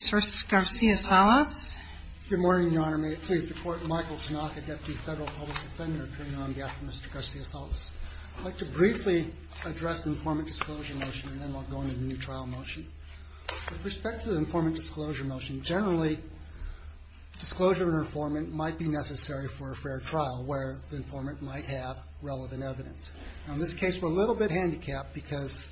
Good morning, Your Honor. May it please the Court, Michael Tanaka, Deputy Federal Public Defender, appearing on behalf of Mr. Garcia-Salas. I'd like to briefly address the informant disclosure motion and then we'll go into the new trial motion. With respect to the informant disclosure motion, generally, disclosure of an informant might be necessary for a fair trial where the informant might have relevant evidence. In this case, we're a little bit handicapped because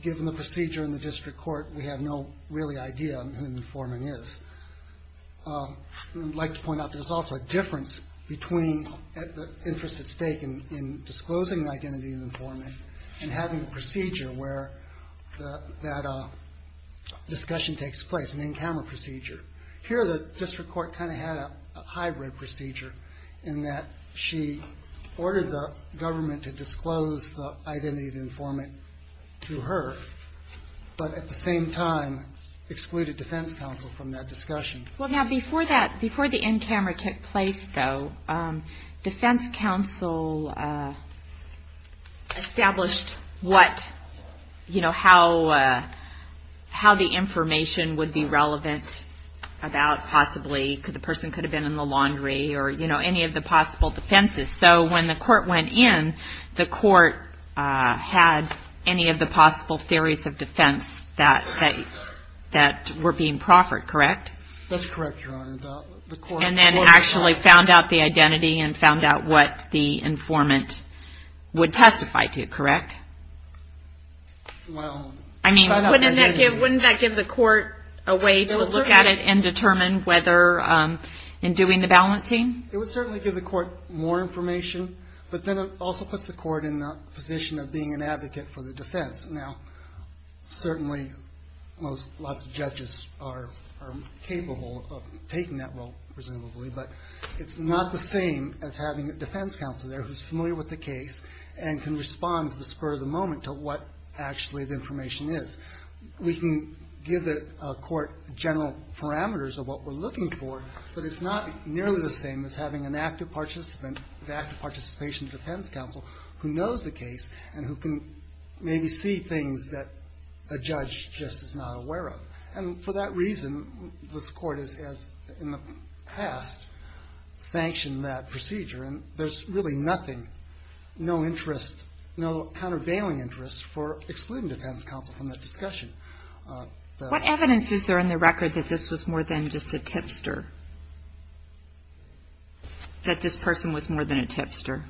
given the procedure in the district court, we have no really idea who the informant might be. So we're going to have to look at the informant disclosure and who the informant is. I'd like to point out there's also a difference between the interest at stake in disclosing the identity of the informant and having a procedure where that discussion takes place, an in-camera procedure. Here, the district court kind of had a hybrid procedure in that she ordered the government to disclose the identity of the informant to her, but at the same time excluded defense counsel from that discussion. That's correct, Your Honor. And then actually found out the identity and found out what the informant would testify to, correct? I mean, wouldn't that give the court a way to look at it and determine whether in doing the balancing? It would certainly give the court more information, but then it also puts the court in the position of being an advocate for the defense. Now, certainly, lots of judges are capable of taking that role, presumably, but it's not the same as having a defense counsel there who's familiar with the case and can respond to the spur of the moment to what actually the information is. We can give the court general parameters of what we're looking for, but it's not nearly the same as having an active participant, an active participation defense counsel, who knows the case and who can maybe see things that a judge just is not aware of. And for that reason, this Court has, in the past, sanctioned that procedure, and there's really nothing, no interest, no countervailing interest for excluding defense counsel from that discussion. What evidence is there in the record that this was more than just a tipster, that this person was more than a tipster?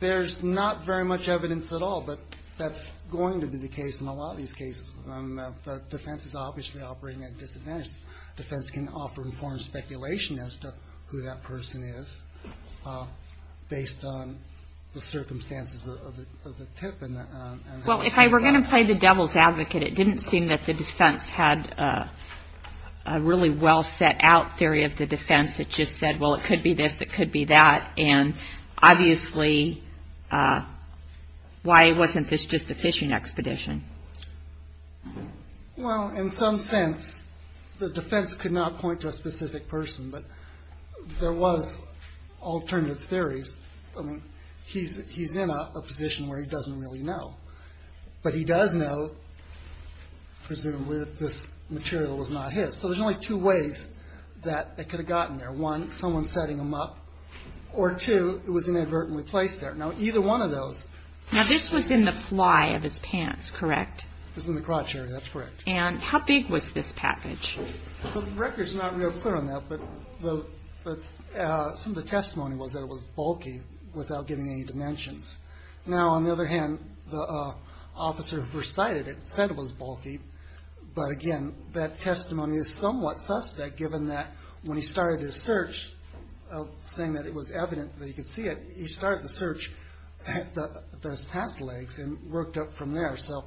There's not very much evidence at all, but that's going to be the case in a lot of these cases. The defense is obviously operating at disadvantage. The defense can offer informed speculation as to who that person is based on the circumstances of the tip and how it's handled. Well, if I were going to play the devil's advocate, it didn't seem that the defense had a really well-set-out theory of the defense that just said, well, it could be this, it could be that. And obviously, why wasn't this just a fishing expedition? Well, in some sense, the defense could not point to a specific person, but there was alternative theories. I mean, he's in a position where he doesn't really know, but he does know, presumably, that this material was not his. So there's only two ways that it could have gotten there. One, someone setting him up, or two, it was inadvertently placed there. Now, either one of those. Now, this was in the fly of his pants, correct? It was in the crotch area, that's correct. And how big was this package? The record's not real clear on that, but some of the testimony was that it was bulky without giving any dimensions. Now, on the other hand, the officer who first sighted it said it was bulky, but again, that testimony is somewhat suspect, given that when he started his search, saying that it was evident that he could see it, he started the search at those pants legs and worked up from there. So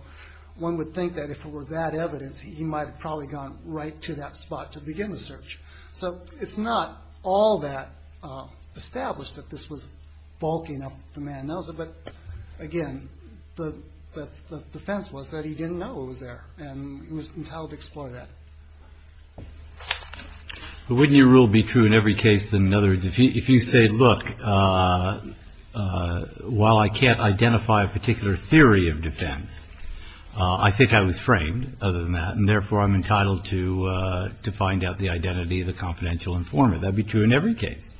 one would think that if it were that evidence, he might have probably gone right to that spot to begin the search. So it's not all that established that this was bulky enough that the man knows it, but again, the defense was that he didn't know it was there, and he was entitled to explore that. But wouldn't your rule be true in every case? In other words, if you say, look, while I can't identify a particular theory of defense, I think I was framed, other than that, and therefore I'm entitled to find out the identity of the confidential informant. That would be true in every case.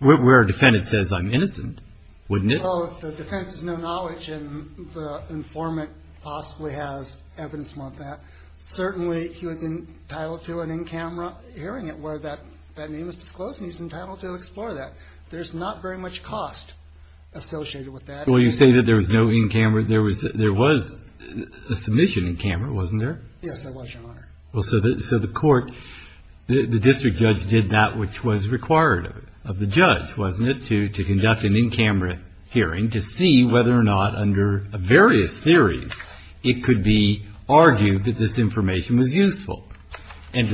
Where a defendant says I'm innocent, wouldn't it? Well, if the defense has no knowledge and the informant possibly has evidence more than that, certainly he would be entitled to an in-camera hearing it where that name is disclosed, and he's entitled to explore that. There's not very much cost associated with that. Well, you say that there was no in-camera. There was a submission in camera, wasn't there? Yes, there was, Your Honor. Well, so the court, the district judge did that which was required of the judge, wasn't it, to conduct an in-camera hearing to see whether or not under various theories it could be argued that this information was useful and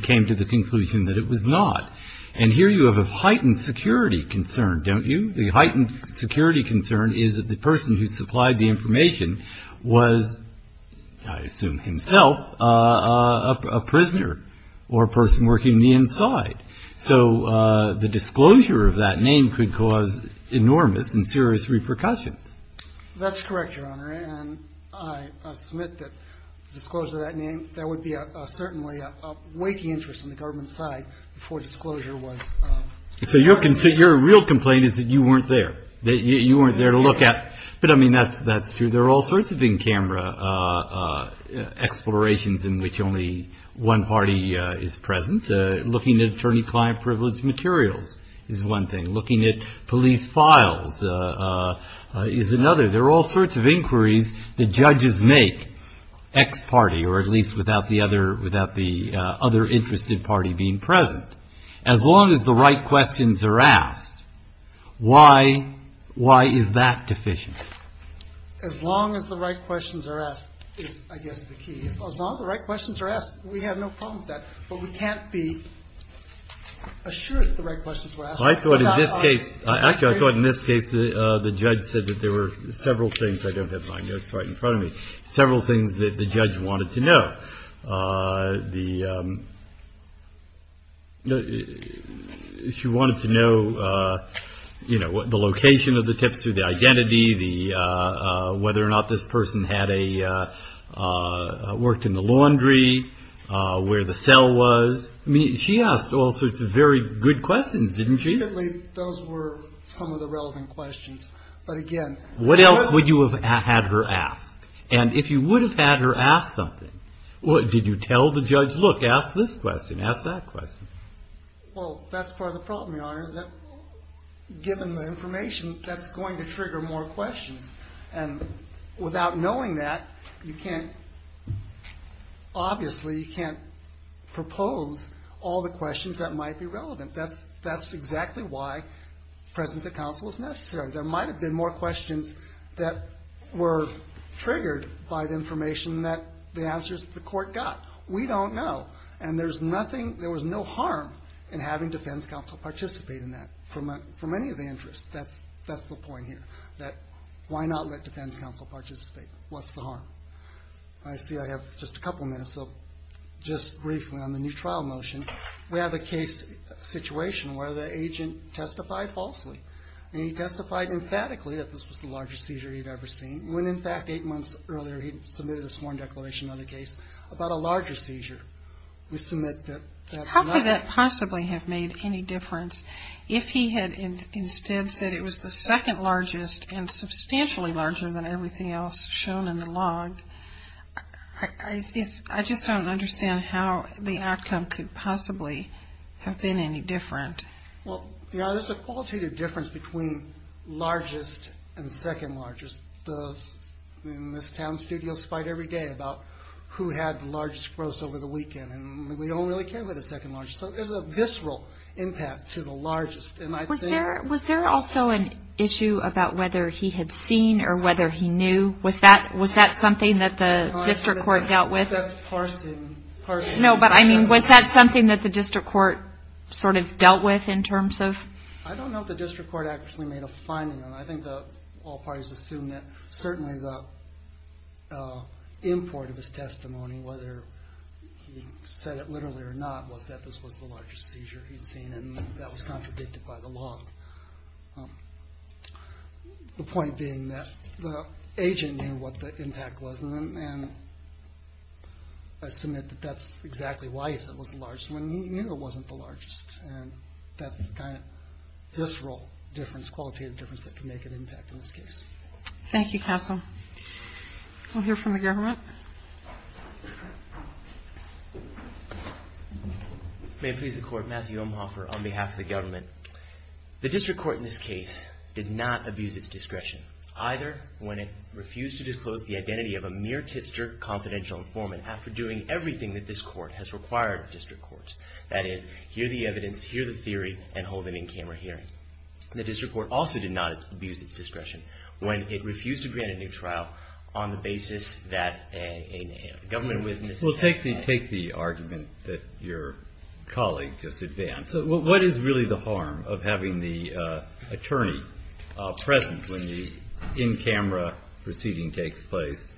came to the conclusion that it was not. And here you have a heightened security concern, don't you? The heightened security concern is that the person who supplied the information was, I assume himself, a prisoner or a person working the inside. So the disclosure of that name could cause enormous and serious repercussions. That's correct, Your Honor, and I submit that disclosure of that name, there would be certainly a weighty interest on the government side before disclosure was made. So your real complaint is that you weren't there, that you weren't there to look at. But, I mean, that's true. There are all sorts of in-camera explorations in which only one party is present. Looking at attorney-client privilege materials is one thing. Looking at police files is another. There are all sorts of inquiries that judges make, X party, or at least without the other interested party being present. As long as the right questions are asked, why is that deficient? As long as the right questions are asked is, I guess, the key. As long as the right questions are asked, we have no problem with that. But we can't be assured that the right questions were asked. I thought in this case, actually I thought in this case the judge said that there were several things, I don't have my notes right in front of me, several things that the judge wanted to know. She wanted to know, you know, the location of the tipster, the identity, whether or not this person had a, worked in the laundry, where the cell was. I mean, she asked all sorts of very good questions, didn't she? Those were some of the relevant questions. But again. What else would you have had her ask? And if you would have had her ask something, did you tell the judge, look, ask this question, ask that question? Well, that's part of the problem, Your Honor. Given the information, that's going to trigger more questions. And without knowing that, you can't, obviously you can't propose all the questions that might be relevant. That's exactly why presence at counsel is necessary. There might have been more questions that were triggered by the information that the answers of the court got. We don't know. And there's nothing, there was no harm in having defense counsel participate in that for many of the interests. That's the point here, that why not let defense counsel participate? What's the harm? I see I have just a couple minutes, so just briefly on the new trial motion. We have a case situation where the agent testified falsely. And he testified emphatically that this was the largest seizure he had ever seen, when in fact eight months earlier he submitted his sworn declaration on the case about a larger seizure. We submit that that's not. How could that possibly have made any difference if he had instead said it was the second largest and substantially larger than everything else shown in the log? I just don't understand how the outcome could possibly have been any different. Well, there's a qualitative difference between largest and second largest. In this town studios fight every day about who had the largest gross over the weekend. And we don't really care about the second largest. So there's a visceral impact to the largest. Was there also an issue about whether he had seen or whether he knew? Was that something that the district court dealt with? That's parsing. No, but I mean, was that something that the district court sort of dealt with in terms of? I don't know if the district court actually made a finding on it. I think all parties assume that certainly the import of his testimony, whether he said it literally or not, was that this was the largest seizure he'd seen. And that was contradicted by the log. The point being that the agent knew what the impact was. And I submit that that's exactly why he said it was the largest, when he knew it wasn't the largest. And that's the kind of visceral difference, qualitative difference, that can make an impact in this case. Thank you, counsel. We'll hear from the government. May it please the court, Matthew Omhoffer on behalf of the government. The district court in this case did not abuse its discretion, either when it refused to disclose the identity of a mere tipster confidential informant after doing everything that this court has required of district courts. That is, hear the evidence, hear the theory, and hold an in-camera hearing. The district court also did not abuse its discretion when it refused to grant a new trial on the basis that a government witness. Well, take the argument that your colleague just advanced. What is really the harm of having the attorney present when the in-camera proceeding takes place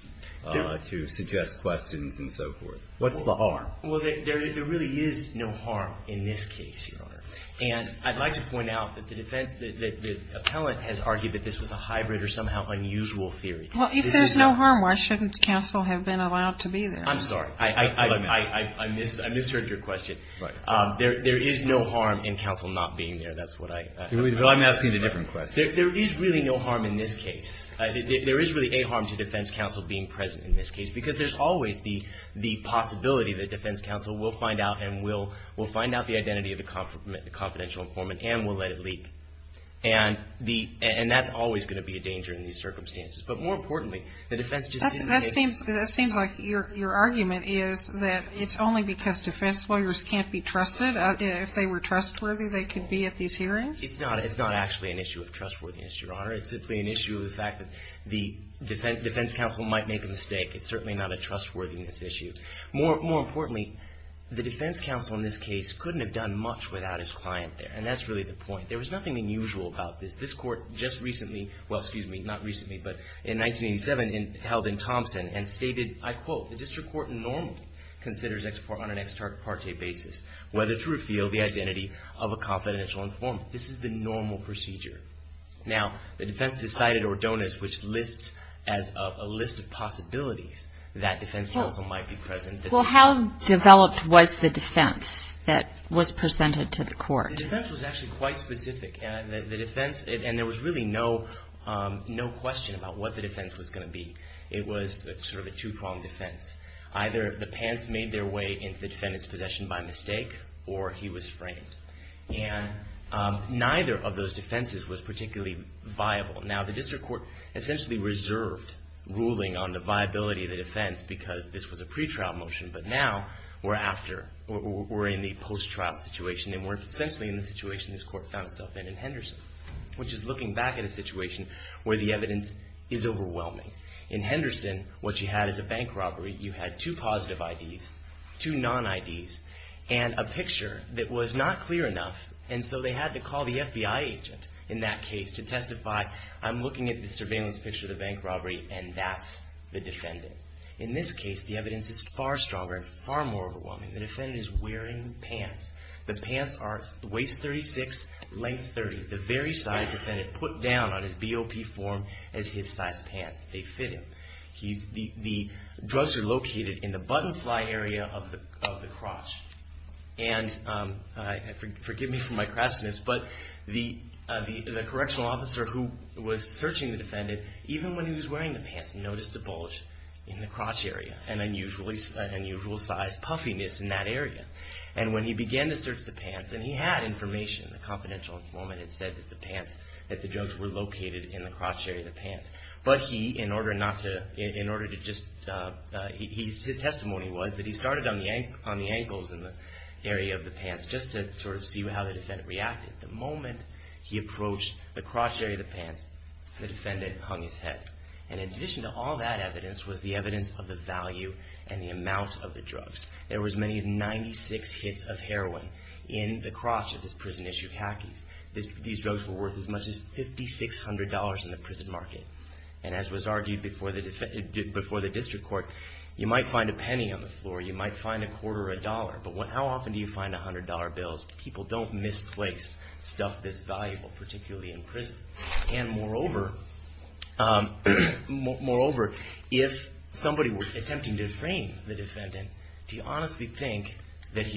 to suggest questions and so forth? What's the harm? Well, there really is no harm in this case, Your Honor. And I'd like to point out that the defense, that the appellant has argued that this was a hybrid or somehow unusual theory. Well, if there's no harm, why shouldn't counsel have been allowed to be there? I'm sorry. I misheard your question. Right. There is no harm in counsel not being there. That's what I'm asking. I'm asking a different question. There is really no harm in this case. There is really a harm to defense counsel being present in this case because there's always the possibility that defense counsel will find out and will find out the identity of the confidential informant and will let it leap. And that's always going to be a danger in these circumstances. But more importantly, the defense just didn't take it. That seems like your argument is that it's only because defense lawyers can't be trusted. If they were trustworthy, they could be at these hearings. It's not actually an issue of trustworthiness, Your Honor. It's simply an issue of the fact that the defense counsel might make a mistake. It's certainly not a trustworthiness issue. More importantly, the defense counsel in this case couldn't have done much without his client there. And that's really the point. There was nothing unusual about this. This Court just recently, well, excuse me, not recently, but in 1987, held in Thompson, and stated, I quote, the district court normally considers on an ex parte basis whether to reveal the identity of a confidential informant. This is the normal procedure. Now, the defense has cited Ordonez, which lists as a list of possibilities that defense counsel might be present. Well, how developed was the defense that was presented to the court? The defense was actually quite specific. And the defense, and there was really no question about what the defense was going to be. It was sort of a two-pronged defense. Either the pants made their way into the defendant's possession by mistake, or he was framed. And neither of those defenses was particularly viable. Now, the district court essentially reserved ruling on the viability of the defense because this was a pretrial motion. But now, we're after, we're in the post-trial situation, and we're essentially in the situation this court found itself in, in Henderson, which is looking back at a situation where the evidence is overwhelming. In Henderson, what you had is a bank robbery. You had two positive IDs, two non-IDs, and a picture that was not clear enough. And so they had to call the FBI agent in that case to testify, I'm looking at the surveillance picture of the bank robbery, and that's the defendant. In this case, the evidence is far stronger and far more overwhelming. The defendant is wearing pants. The pants are waist 36, length 30, the very size the defendant put down on his BOP form as his size pants. They fit him. The drugs are located in the button fly area of the crotch. And forgive me for my crassness, but the correctional officer who was searching the defendant, even when he was wearing the pants, noticed a bulge in the crotch area, an unusual size puffiness in that area. And when he began to search the pants, and he had information, the confidential informant had said that the pants, that the drugs were located in the crotch area of the pants. But he, in order not to, in order to just, his testimony was that he started on the ankles in the area of the pants just to sort of see how the defendant reacted. The moment he approached the crotch area of the pants, the defendant hung his head. And in addition to all that evidence was the evidence of the value and the amount of the drugs. There were as many as 96 hits of heroin in the crotch of this prison-issued hackies. These drugs were worth as much as $5,600 in the prison market. And as was argued before the district court, you might find a penny on the floor. You might find a quarter or a dollar. But how often do you find $100 bills? People don't misplace stuff this valuable, particularly in prison. And moreover, if somebody were attempting to frame the defendant, do you honestly think that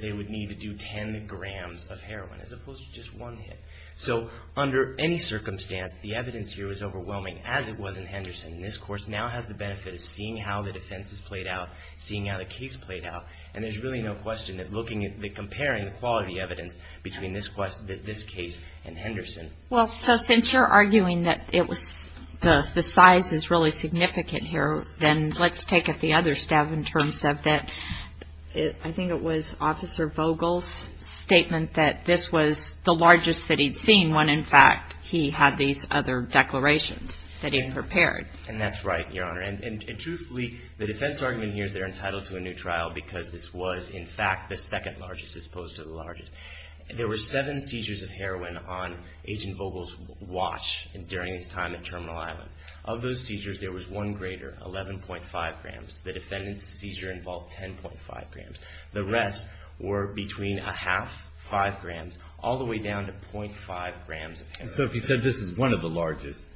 they would need to do 10 grams of heroin as opposed to just one hit? So under any circumstance, the evidence here is overwhelming, as it was in Henderson. And this court now has the benefit of seeing how the defense has played out, seeing how the case played out. And there's really no question that comparing the quality evidence between this case and Henderson. Well, so since you're arguing that the size is really significant here, then let's take it the other step in terms of that I think it was Officer Vogel's statement that this was the largest that he'd seen when, in fact, he had these other declarations that he'd prepared. And that's right, Your Honor. And truthfully, the defense argument here is they're entitled to a new trial because this was, in fact, the second largest as opposed to the largest. There were seven seizures of heroin on Agent Vogel's watch during his time at Terminal Island. Of those seizures, there was one greater, 11.5 grams. The defendant's seizure involved 10.5 grams. The rest were between a half, 5 grams, all the way down to 0.5 grams of heroin. So if you said this is one of the largest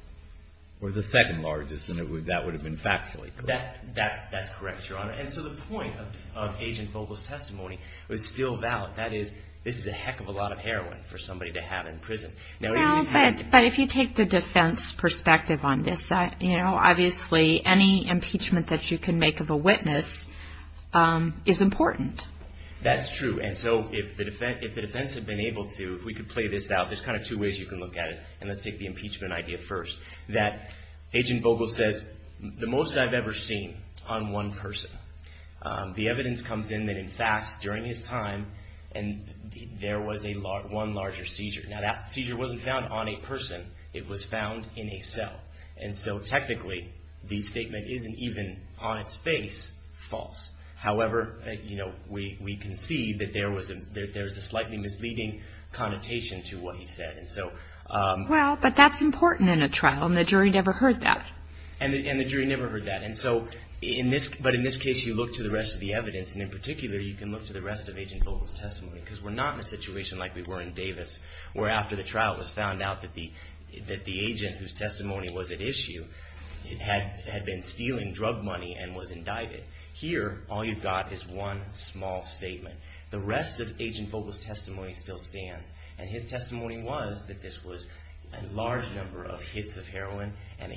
or the second largest, then that would have been factually correct. That's correct, Your Honor. And so the point of Agent Vogel's testimony was still valid. That is, this is a heck of a lot of heroin for somebody to have in prison. But if you take the defense perspective on this, you know, obviously any impeachment that you can make of a witness is important. That's true. And so if the defense had been able to, if we could play this out, there's kind of two ways you can look at it, and let's take the impeachment idea first, that Agent Vogel says the most I've ever seen on one person. The evidence comes in that, in fact, during his time, there was one larger seizure. Now that seizure wasn't found on a person. It was found in a cell. And so technically, the statement isn't even on its face false. However, you know, we can see that there was a slightly misleading connotation to what he said. Well, but that's important in a trial, and the jury never heard that. And the jury never heard that. And so, but in this case, you look to the rest of the evidence, and in particular, you can look to the rest of Agent Vogel's testimony, because we're not in a situation like we were in Davis, where after the trial it was found out that the agent whose testimony was at issue had been stealing drug money and was indicted. Here, all you've got is one small statement. The rest of Agent Vogel's testimony still stands, and his testimony was that this was a large number of hits of heroin and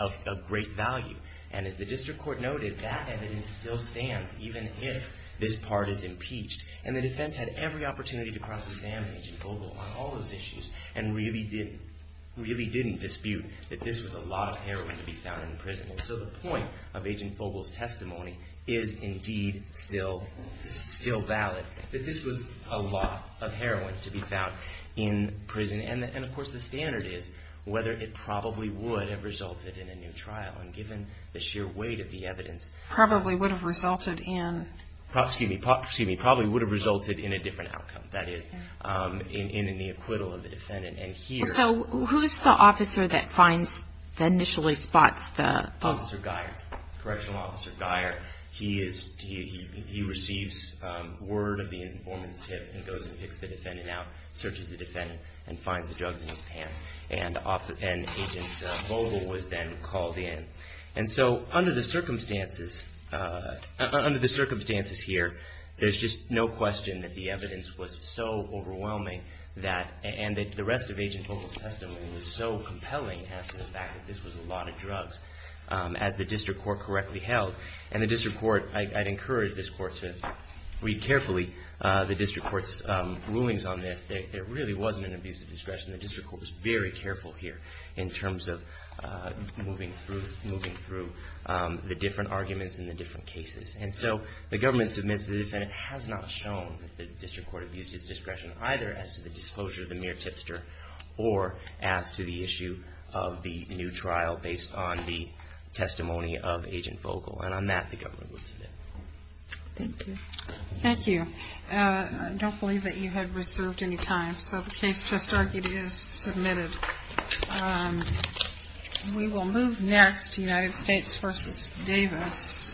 of great value. And as the district court noted, that evidence still stands, even if this part is impeached. And the defense had every opportunity to cross-examine Agent Vogel on all those issues and really didn't dispute that this was a lot of heroin to be found in prison. And so the point of Agent Vogel's testimony is indeed still valid, that this was a lot of heroin to be found in prison. And, of course, the standard is whether it probably would have resulted in a new trial. And given the sheer weight of the evidence... Probably would have resulted in... Excuse me, probably would have resulted in a different outcome. That is, in the acquittal of the defendant. And here... So who's the officer that initially spots the... Officer Geyer, Correctional Officer Geyer. He receives word of the informant's tip and goes and picks the defendant out, searches the defendant, and finds the drugs in his pants. And Agent Vogel was then called in. And so under the circumstances here, there's just no question that the evidence was so overwhelming and that the rest of Agent Vogel's testimony was so compelling as to the fact that this was a lot of drugs, as the district court correctly held. And the district court... I'd encourage this court to read carefully the district court's rulings on this. There really wasn't an abuse of discretion. The district court was very careful here in terms of moving through the different arguments and the different cases. And so the government submits to the defendant. It has not shown that the district court abused its discretion, either as to the disclosure of the mere tipster or as to the issue of the new trial based on the testimony of Agent Vogel. And on that, the government would submit. Thank you. Thank you. I don't believe that you had reserved any time. So the case testarchy is submitted. We will move next to United States v. Davis. Thank you.